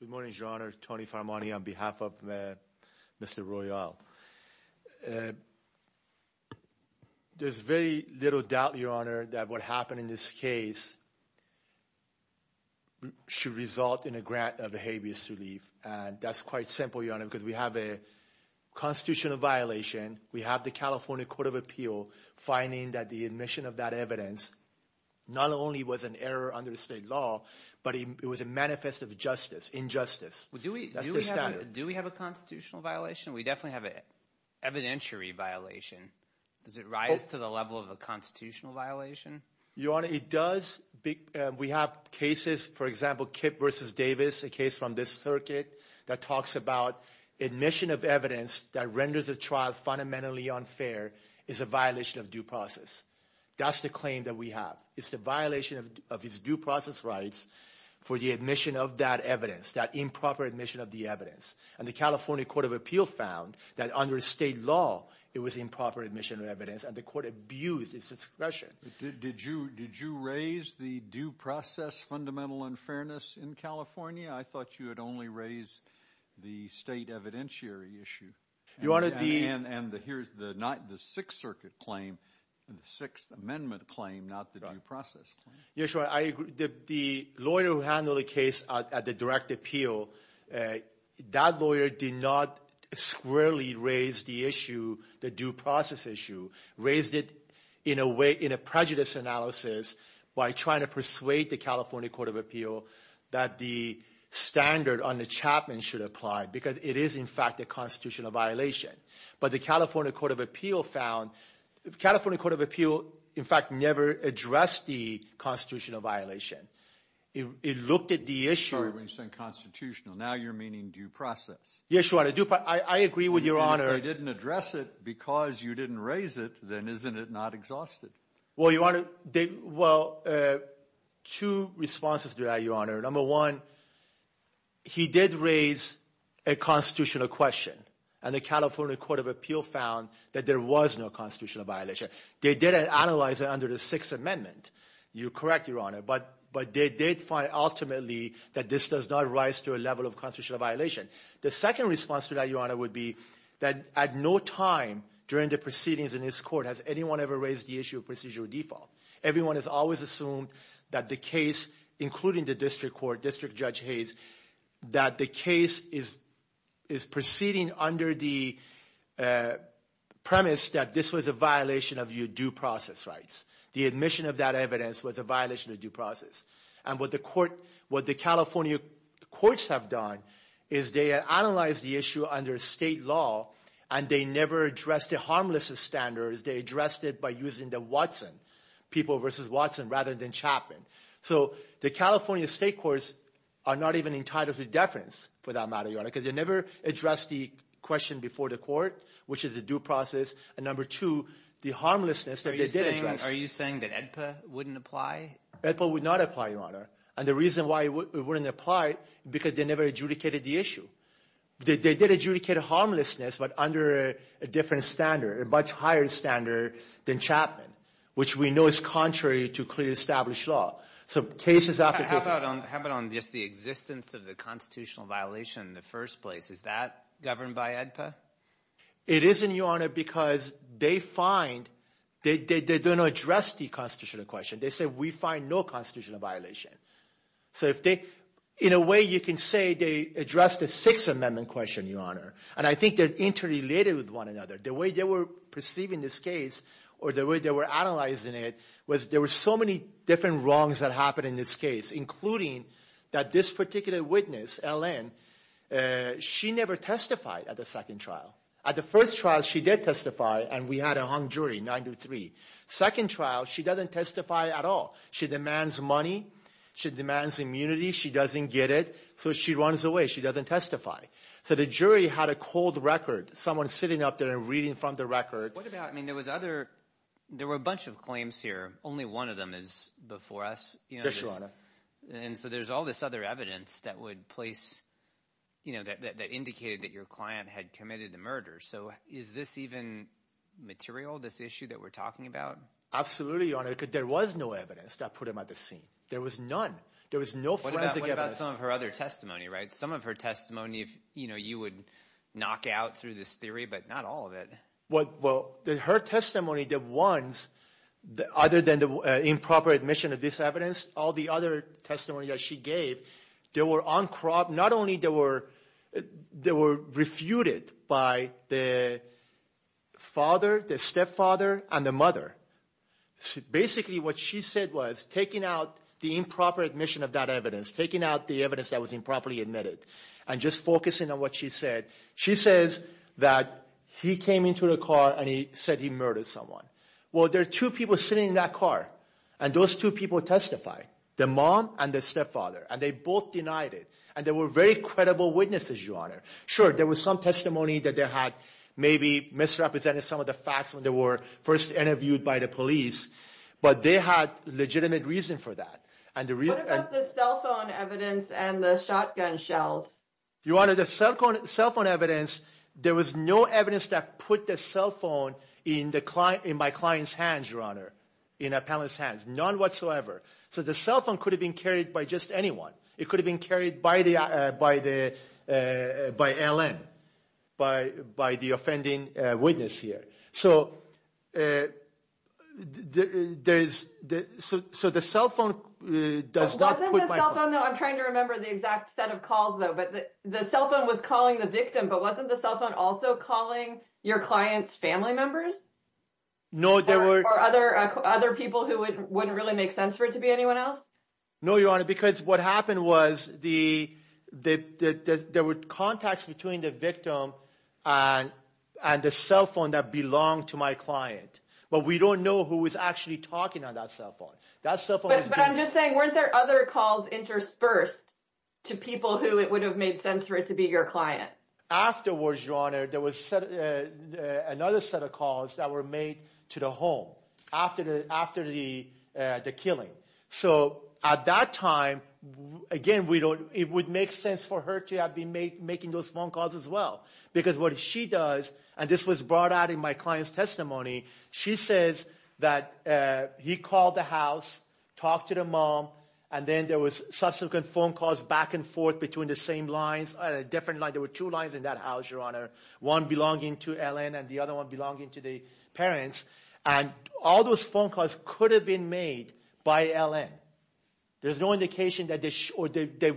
Good morning, Your Honor. Tony Faramani on behalf of Mr. Royal. There's very little doubt, Your Honor, that what happened in this case should result in a grant of habeas relief. And that's quite simple, Your Honor, because we have a constitutional violation. We have the California Court of Appeal finding that the admission of that evidence not only was an error under state law, but it was a manifest of injustice. That's the standard. Do we have a constitutional violation? We definitely have an evidentiary violation. Does it rise to the level of a constitutional violation? Your Honor, it does. We have cases, for example, Kip v. Davis, a case from this circuit that talks about admission of evidence that renders a trial fundamentally unfair is a violation of due process. That's the claim that we have. It's the violation of his due process rights for the admission of that evidence, that improper admission of the evidence. And the California Court of Appeal found that under state law, it was improper admission of evidence, and the court abused its discretion. Did you raise the due process fundamental unfairness in California? I thought you had only raised the state evidentiary issue. Your Honor, the— And here's the Sixth Circuit claim, the Sixth Amendment claim, not the due process claim. Yes, Your Honor, I agree. The lawyer who handled the case at the direct appeal, that lawyer did not squarely raise the issue, the due process issue. Raised it in a prejudice analysis by trying to persuade the California Court of Appeal that the standard on the Chapman should apply because it is, in fact, a constitutional violation. But the California Court of Appeal found—the California Court of Appeal, in fact, never addressed the constitutional violation. It looked at the issue— Sorry, when you're saying constitutional. Now you're meaning due process. Yes, Your Honor, due process. I agree with Your Honor. If they didn't address it because you didn't raise it, then isn't it not exhausted? Well, Your Honor, they—well, two responses to that, Your Honor. Number one, he did raise a constitutional question, and the California Court of Appeal found that there was no constitutional violation. They did analyze it under the Sixth Amendment. You're correct, Your Honor, but they did find ultimately that this does not rise to a level of constitutional violation. The second response to that, Your Honor, would be that at no time during the proceedings in this court has anyone ever raised the issue of procedural default. Everyone has always assumed that the case, including the district court, District Judge Hayes, that the case is proceeding under the premise that this was a violation of your due process rights. The admission of that evidence was a violation of due process. And what the California courts have done is they analyzed the issue under state law, and they never addressed the harmless standards. They addressed it by using the Watson, people versus Watson, rather than Chapman. So the California state courts are not even entitled to deference for that matter, Your Honor, because they never addressed the question before the court, which is a due process. And number two, the harmlessness that they did address— Are you saying that AEDPA wouldn't apply? AEDPA would not apply, Your Honor, and the reason why it wouldn't apply is because they never adjudicated the issue. They did adjudicate harmlessness, but under a different standard, a much higher standard than Chapman, which we know is contrary to clearly established law. So cases after cases— How about on just the existence of the constitutional violation in the first place? Is that governed by AEDPA? It isn't, Your Honor, because they find—they don't address the constitutional question. They say, we find no constitutional violation. So if they—in a way, you can say they addressed a Sixth Amendment question, Your Honor, and I think they're interrelated with one another. The way they were perceiving this case or the way they were analyzing it was there were so many different wrongs that happened in this case, including that this particular witness, L.N., she never testified at the second trial. At the first trial, she did testify, and we had a hung jury, 9-3. Second trial, she doesn't testify at all. She demands money. She demands immunity. She doesn't get it, so she runs away. She doesn't testify. So the jury had a cold record, someone sitting up there and reading from the record. What about—I mean there was other—there were a bunch of claims here. Only one of them is before us. Yes, Your Honor. And so there's all this other evidence that would place—that indicated that your client had committed the murder. So is this even material, this issue that we're talking about? Absolutely, Your Honor, because there was no evidence that put him at the scene. There was none. There was no forensic evidence. What about some of her other testimony, right? Some of her testimony you would knock out through this theory, but not all of it. Well, her testimony, the ones other than the improper admission of this evidence, all the other testimonies that she gave, they were uncropped. Not only were they refuted by the father, the stepfather, and the mother. Basically what she said was taking out the improper admission of that evidence, taking out the evidence that was improperly admitted, and just focusing on what she said. She says that he came into the car and he said he murdered someone. Well, there are two people sitting in that car, and those two people testified. The mom and the stepfather, and they both denied it. And they were very credible witnesses, Your Honor. Sure, there was some testimony that they had maybe misrepresented some of the facts when they were first interviewed by the police, but they had legitimate reason for that. What about the cell phone evidence and the shotgun shells? Your Honor, the cell phone evidence, there was no evidence that put the cell phone in my client's hands, Your Honor, in a panelist's hands. None whatsoever. So the cell phone could have been carried by just anyone. It could have been carried by L.N., by the offending witness here. So the cell phone does not put my client. I'm trying to remember the exact set of calls, though. The cell phone was calling the victim, but wasn't the cell phone also calling your client's family members? No, there were. Or other people who wouldn't really make sense for it to be anyone else? No, Your Honor, because what happened was there were contacts between the victim and the cell phone that belonged to my client. But we don't know who was actually talking on that cell phone. But I'm just saying, weren't there other calls interspersed to people who it would have made sense for it to be your client? Afterwards, Your Honor, there was another set of calls that were made to the home after the killing. So at that time, again, it would make sense for her to have been making those phone calls as well, because what she does, and this was brought out in my client's testimony, she says that he called the house, talked to the mom, and then there was subsequent phone calls back and forth between the same lines and a different line. There were two lines in that house, Your Honor, one belonging to L.N. and the other one belonging to the parents. And all those phone calls could have been made by L.N. There's no indication that they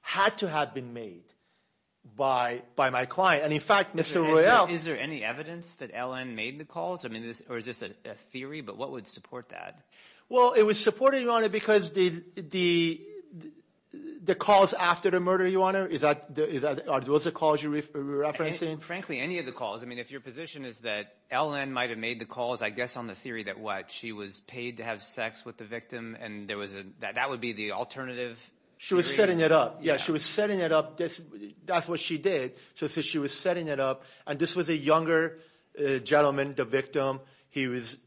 had to have been made by my client. And in fact, Mr. Royale – Is there any evidence that L.N. made the calls? Or is this a theory? But what would support that? Well, it would support it, Your Honor, because the calls after the murder, Your Honor – are those the calls you're referencing? Frankly, any of the calls. I mean, if your position is that L.N. might have made the calls, I guess on the theory that what? She was paid to have sex with the victim, and that would be the alternative theory? She was setting it up. Yeah, she was setting it up. That's what she did. So she was setting it up, and this was a younger gentleman, the victim. He was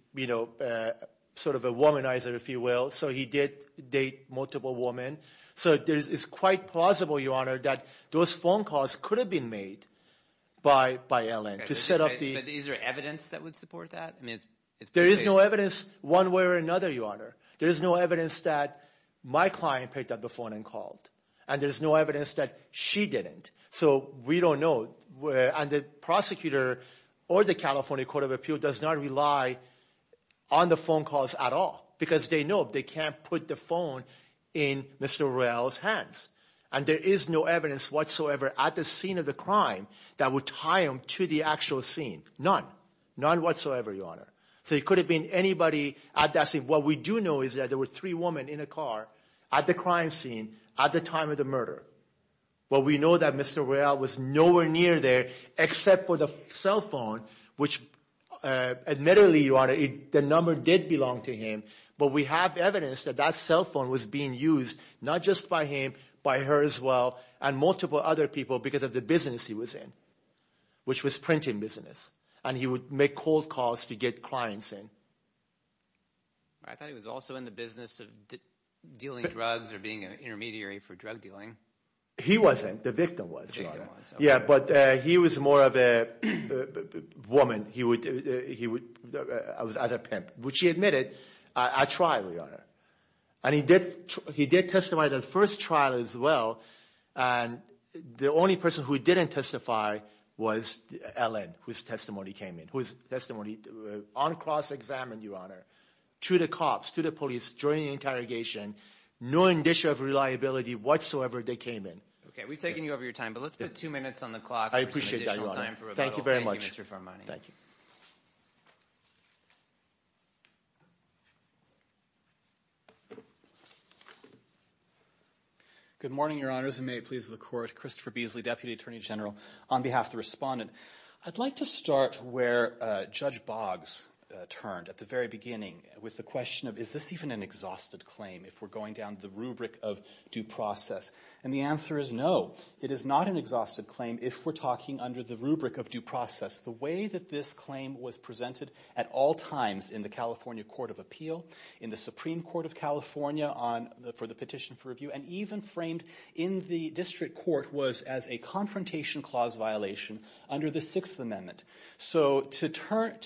sort of a womanizer, if you will, so he did date multiple women. So it's quite plausible, Your Honor, that those phone calls could have been made by L.N. to set up the – But is there evidence that would support that? There is no evidence one way or another, Your Honor. There is no evidence that my client picked up the phone and called, and there's no evidence that she didn't. So we don't know, and the prosecutor or the California Court of Appeal does not rely on the phone calls at all because they know they can't put the phone in Mr. Royale's hands, and there is no evidence whatsoever at the scene of the crime that would tie him to the actual scene. None. None whatsoever, Your Honor. So it could have been anybody at that scene. What we do know is that there were three women in a car at the crime scene at the time of the murder, but we know that Mr. Royale was nowhere near there except for the cell phone, which admittedly, Your Honor, the number did belong to him, but we have evidence that that cell phone was being used not just by him, by her as well, and multiple other people because of the business he was in, which was printing business, and he would make cold calls to get clients in. I thought he was also in the business of dealing drugs or being an intermediary for drug dealing. He wasn't. The victim was, Your Honor. Yeah, but he was more of a woman as a pimp, which he admitted at trial, Your Honor, and he did testify at the first trial as well, and the only person who didn't testify was Ellen, whose testimony came in, whose testimony on cross-examined, Your Honor, to the cops, to the police during the interrogation, knowing the issue of reliability whatsoever they came in. Okay, we've taken you over your time, but let's put two minutes on the clock for some additional time for rebuttal. I appreciate that, Your Honor. Thank you very much. Thank you, Mr. Fermani. Thank you. Good morning, Your Honors, and may it please the Court. Christopher Beasley, Deputy Attorney General. On behalf of the respondent, I'd like to start where Judge Boggs turned at the very beginning with the question of is this even an exhausted claim if we're going down the rubric of due process, and the answer is no. It is not an exhausted claim if we're talking under the rubric of due process. The way that this claim was presented at all times in the California Court of Appeal, in the Supreme Court of California for the petition for review, and even framed in the district court was as a confrontation clause violation under the Sixth Amendment. So to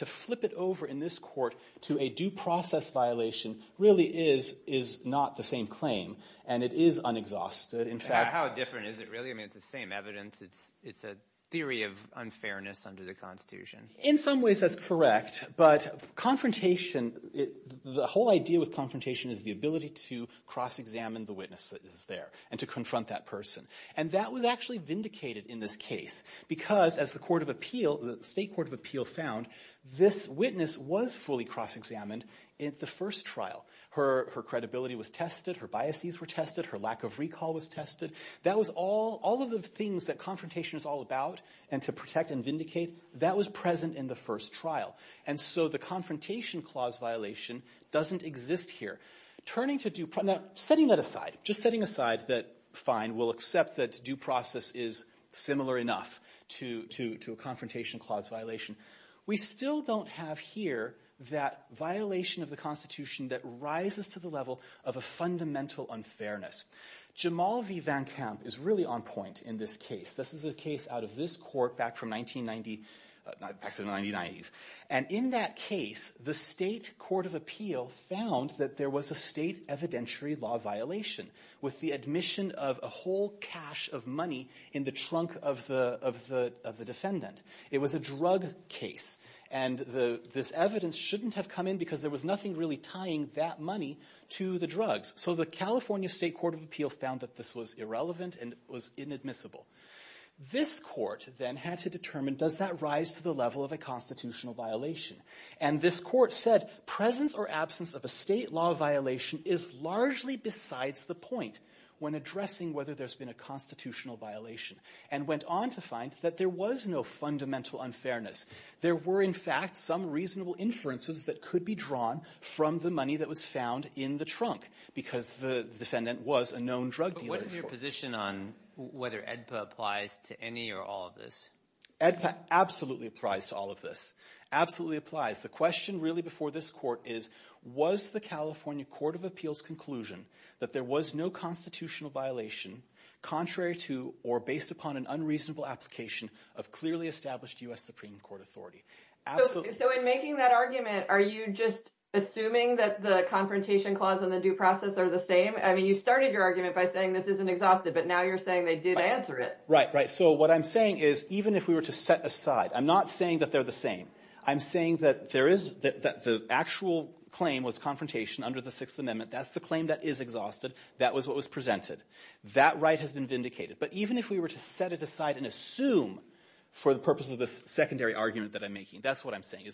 flip it over in this court to a due process violation really is not the same claim, and it is unexhausted. How different is it really? I mean, it's the same evidence. It's a theory of unfairness under the Constitution. In some ways, that's correct. But confrontation, the whole idea with confrontation is the ability to cross-examine the witness that is there and to confront that person, and that was actually vindicated in this case because as the State Court of Appeal found, this witness was fully cross-examined in the first trial. Her credibility was tested. Her biases were tested. Her lack of recall was tested. All of the things that confrontation is all about and to protect and vindicate, that was present in the first trial. And so the confrontation clause violation doesn't exist here. Now, setting that aside, just setting aside that fine, we'll accept that due process is similar enough to a confrontation clause violation, we still don't have here that violation of the Constitution that rises to the level of a fundamental unfairness. Jamal v. Van Kamp is really on point in this case. This is a case out of this court back from 1990s. And in that case, the State Court of Appeal found that there was a state evidentiary law violation with the admission of a whole cache of money in the trunk of the defendant. It was a drug case. And this evidence shouldn't have come in because there was nothing really tying that money to the drugs. So the California State Court of Appeal found that this was irrelevant and it was inadmissible. This court then had to determine, does that rise to the level of a constitutional violation? And this court said, presence or absence of a state law violation is largely besides the point when addressing whether there's been a constitutional violation and went on to find that there was no fundamental unfairness. There were, in fact, some reasonable inferences that could be drawn from the money that was found in the trunk because the defendant was a known drug dealer. But what is your position on whether AEDPA applies to any or all of this? AEDPA absolutely applies to all of this. Absolutely applies. The question really before this court is, was the California Court of Appeal's conclusion that there was no constitutional violation contrary to or based upon an unreasonable application of clearly established U.S. Supreme Court authority? So in making that argument, are you just assuming that the confrontation clause and the due process are the same? I mean, you started your argument by saying this isn't exhausted, but now you're saying they did answer it. Right, right. So what I'm saying is, even if we were to set aside, I'm not saying that they're the same. I'm saying that the actual claim was confrontation under the Sixth Amendment. That's the claim that is exhausted. That was what was presented. That right has been vindicated. But even if we were to set it aside and assume, for the purpose of this secondary argument that I'm making, that's what I'm saying.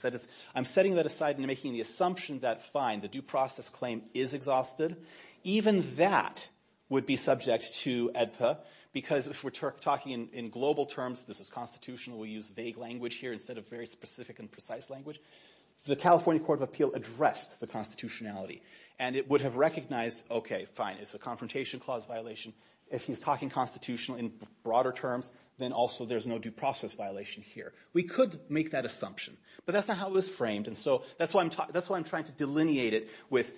I'm setting that aside and making the assumption that, fine, the due process claim is exhausted. Even that would be subject to AEDPA because if we're talking in global terms, this is constitutional, we use vague language here instead of very specific and precise language. The California Court of Appeal addressed the constitutionality, and it would have recognized, okay, fine, it's a confrontation clause violation. If he's talking constitutional in broader terms, then also there's no due process violation here. We could make that assumption, but that's not how it was framed, and so that's why I'm trying to delineate it with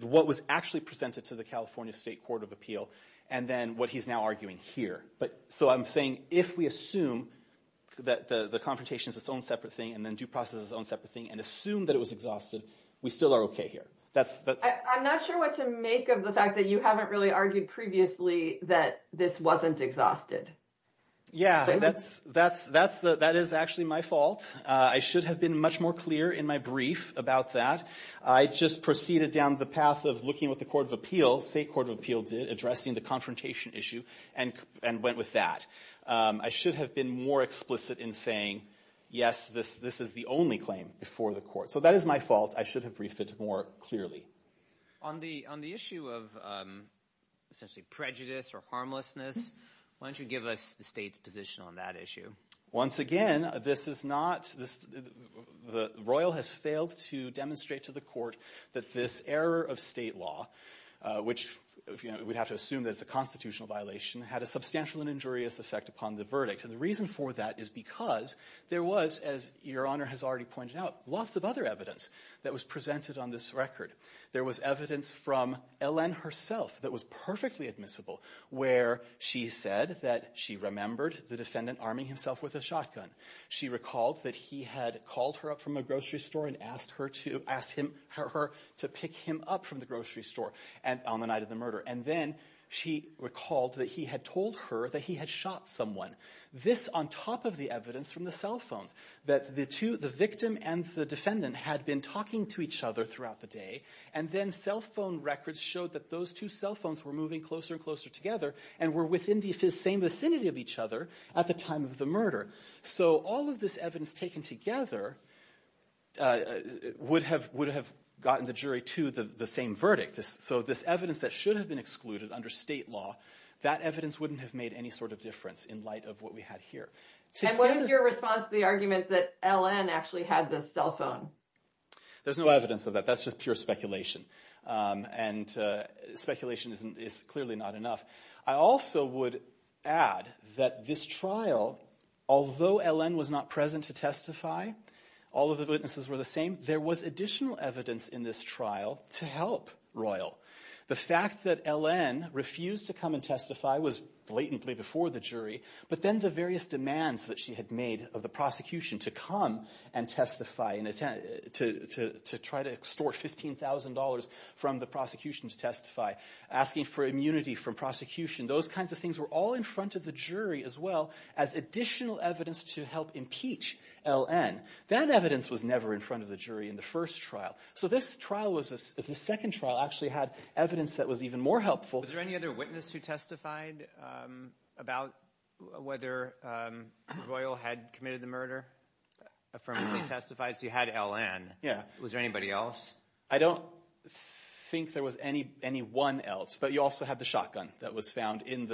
what was actually presented to the California State Court of Appeal and then what he's now arguing here. So I'm saying if we assume that the confrontation is its own separate thing and then due process is its own separate thing and assume that it was exhausted, we still are okay here. I'm not sure what to make of the fact that you haven't really argued previously that this wasn't exhausted. Yeah, that is actually my fault. I should have been much more clear in my brief about that. I just proceeded down the path of looking with the Court of Appeal, State Court of Appeal did, addressing the confrontation issue and went with that. I should have been more explicit in saying, yes, this is the only claim before the court. So that is my fault. I should have briefed it more clearly. On the issue of essentially prejudice or harmlessness, why don't you give us the state's position on that issue? Once again, this is not – the royal has failed to demonstrate to the court that this error of state law, which we'd have to assume that it's a constitutional violation, had a substantial and injurious effect upon the verdict. And the reason for that is because there was, as Your Honor has already pointed out, lots of other evidence that was presented on this record. There was evidence from Ellen herself that was perfectly admissible, where she said that she remembered the defendant arming himself with a shotgun. She recalled that he had called her up from a grocery store and asked her to pick him up from the grocery store on the night of the murder. And then she recalled that he had told her that he had shot someone. This on top of the evidence from the cell phones, that the victim and the defendant had been talking to each other throughout the day, and then cell phone records showed that those two cell phones were moving closer and closer together and were within the same vicinity of each other at the time of the murder. So all of this evidence taken together would have gotten the jury to the same verdict. So this evidence that should have been excluded under state law, that evidence wouldn't have made any sort of difference in light of what we had here. And what is your response to the argument that Ellen actually had this cell phone? There's no evidence of that. That's just pure speculation. And speculation is clearly not enough. I also would add that this trial, although Ellen was not present to testify, all of the witnesses were the same, there was additional evidence in this trial to help Royal. The fact that Ellen refused to come and testify was blatantly before the jury, but then the various demands that she had made of the prosecution to come and testify, to try to extort $15,000 from the prosecution to testify, asking for immunity from prosecution, those kinds of things were all in front of the jury as well as additional evidence to help impeach Ellen. That evidence was never in front of the jury in the first trial. So this second trial actually had evidence that was even more helpful. Was there any other witness who testified about whether Royal had committed the murder? Affirmatively testified, so you had Ellen. Yeah. Was there anybody else? I don't think there was anyone else, but you also have the shotgun that was found in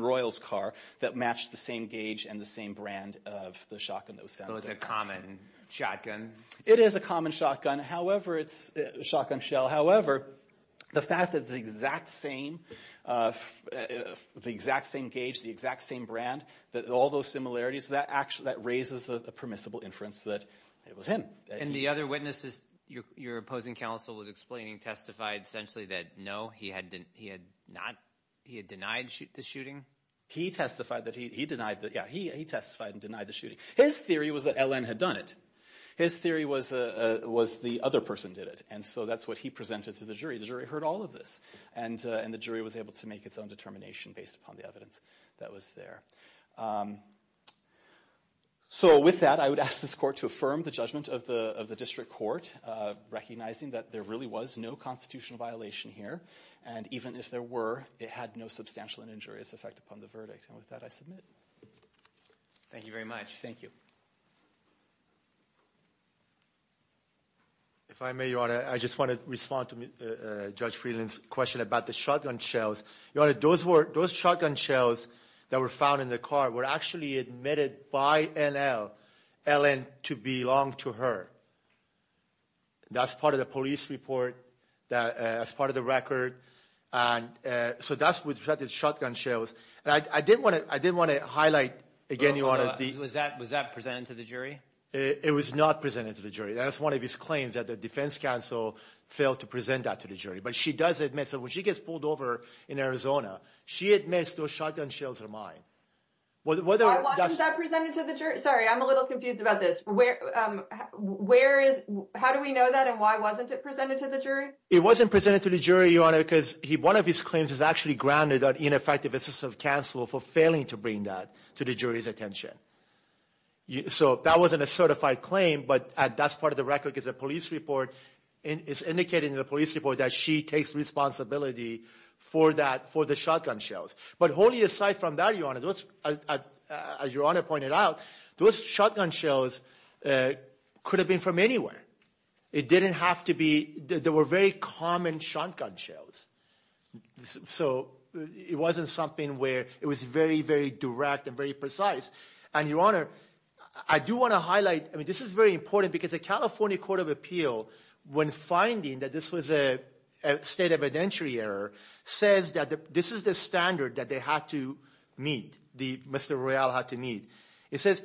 Royal's car that matched the same gauge and the same brand of the shotgun that was found. So it's a common shotgun? It is a common shotgun shell. However, the fact that the exact same gauge, the exact same brand, all those similarities, that raises a permissible inference that it was him. And the other witnesses your opposing counsel was explaining testified essentially that no, he had denied the shooting? He testified that he denied the shooting. His theory was that Ellen had done it. His theory was the other person did it. And so that's what he presented to the jury. The jury heard all of this, and the jury was able to make its own determination based upon the evidence that was there. So with that, I would ask this court to affirm the judgment of the district court, recognizing that there really was no constitutional violation here, and even if there were, it had no substantial and injurious effect upon the verdict. And with that, I submit. Thank you very much. Thank you. If I may, Your Honor, I just want to respond to Judge Friedland's question about the shotgun shells. Your Honor, those shotgun shells that were found in the car were actually admitted by NL, Ellen, to belong to her. That's part of the police report, that's part of the record. So that's with respect to shotgun shells. I did want to highlight again, Your Honor. Was that presented to the jury? It was not presented to the jury. That's one of his claims, that the defense counsel failed to present that to the jury. But she does admit, so when she gets pulled over in Arizona, she admits those shotgun shells are mine. Why wasn't that presented to the jury? Sorry, I'm a little confused about this. How do we know that, and why wasn't it presented to the jury? It wasn't presented to the jury, Your Honor, because one of his claims is actually grounded on ineffective assistance of counsel for failing to bring that to the jury's attention. So that wasn't a certified claim, but that's part of the record because the police report is indicating in the police report that she takes responsibility for the shotgun shells. But wholly aside from that, Your Honor, as Your Honor pointed out, those shotgun shells could have been from anywhere. It didn't have to be. They were very common shotgun shells. So it wasn't something where it was very, very direct and very precise. And, Your Honor, I do want to highlight, I mean, this is very important, because the California Court of Appeal, when finding that this was a state evidentiary error, says that this is the standard that they had to meet, Mr. Royale had to meet. It says,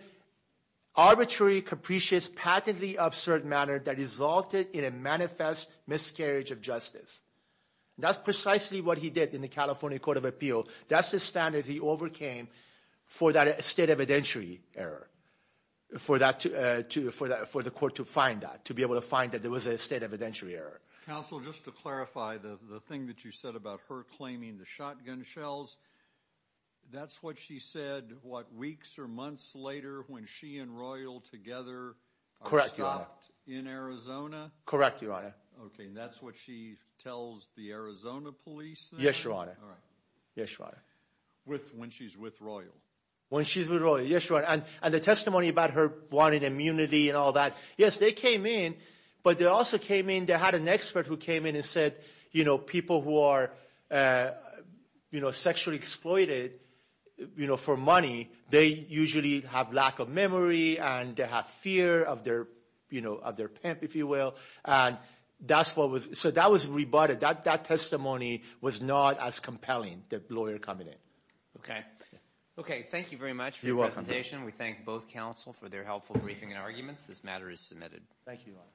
arbitrary, capricious, patently absurd manner that resulted in a manifest miscarriage of justice. That's precisely what he did in the California Court of Appeal. That's the standard he overcame for that state evidentiary error, for the court to find that, to be able to find that there was a state evidentiary error. Counsel, just to clarify, the thing that you said about her claiming the shotgun shells, that's what she said, what, weeks or months later when she and Royale together are stopped in Arizona? Correct, Your Honor. Okay, and that's what she tells the Arizona police? Yes, Your Honor. All right. Yes, Your Honor. When she's with Royale? When she's with Royale, yes, Your Honor. And the testimony about her wanting immunity and all that, yes, they came in, but they also came in, they had an expert who came in and said, you know, people who are sexually exploited for money, they usually have lack of memory and they have fear of their pimp, if you will. So that was rebutted. That testimony was not as compelling, the lawyer coming in. Okay. Okay, thank you very much for your presentation. We thank both counsel for their helpful briefing and arguments. This matter is submitted. Thank you, Your Honor.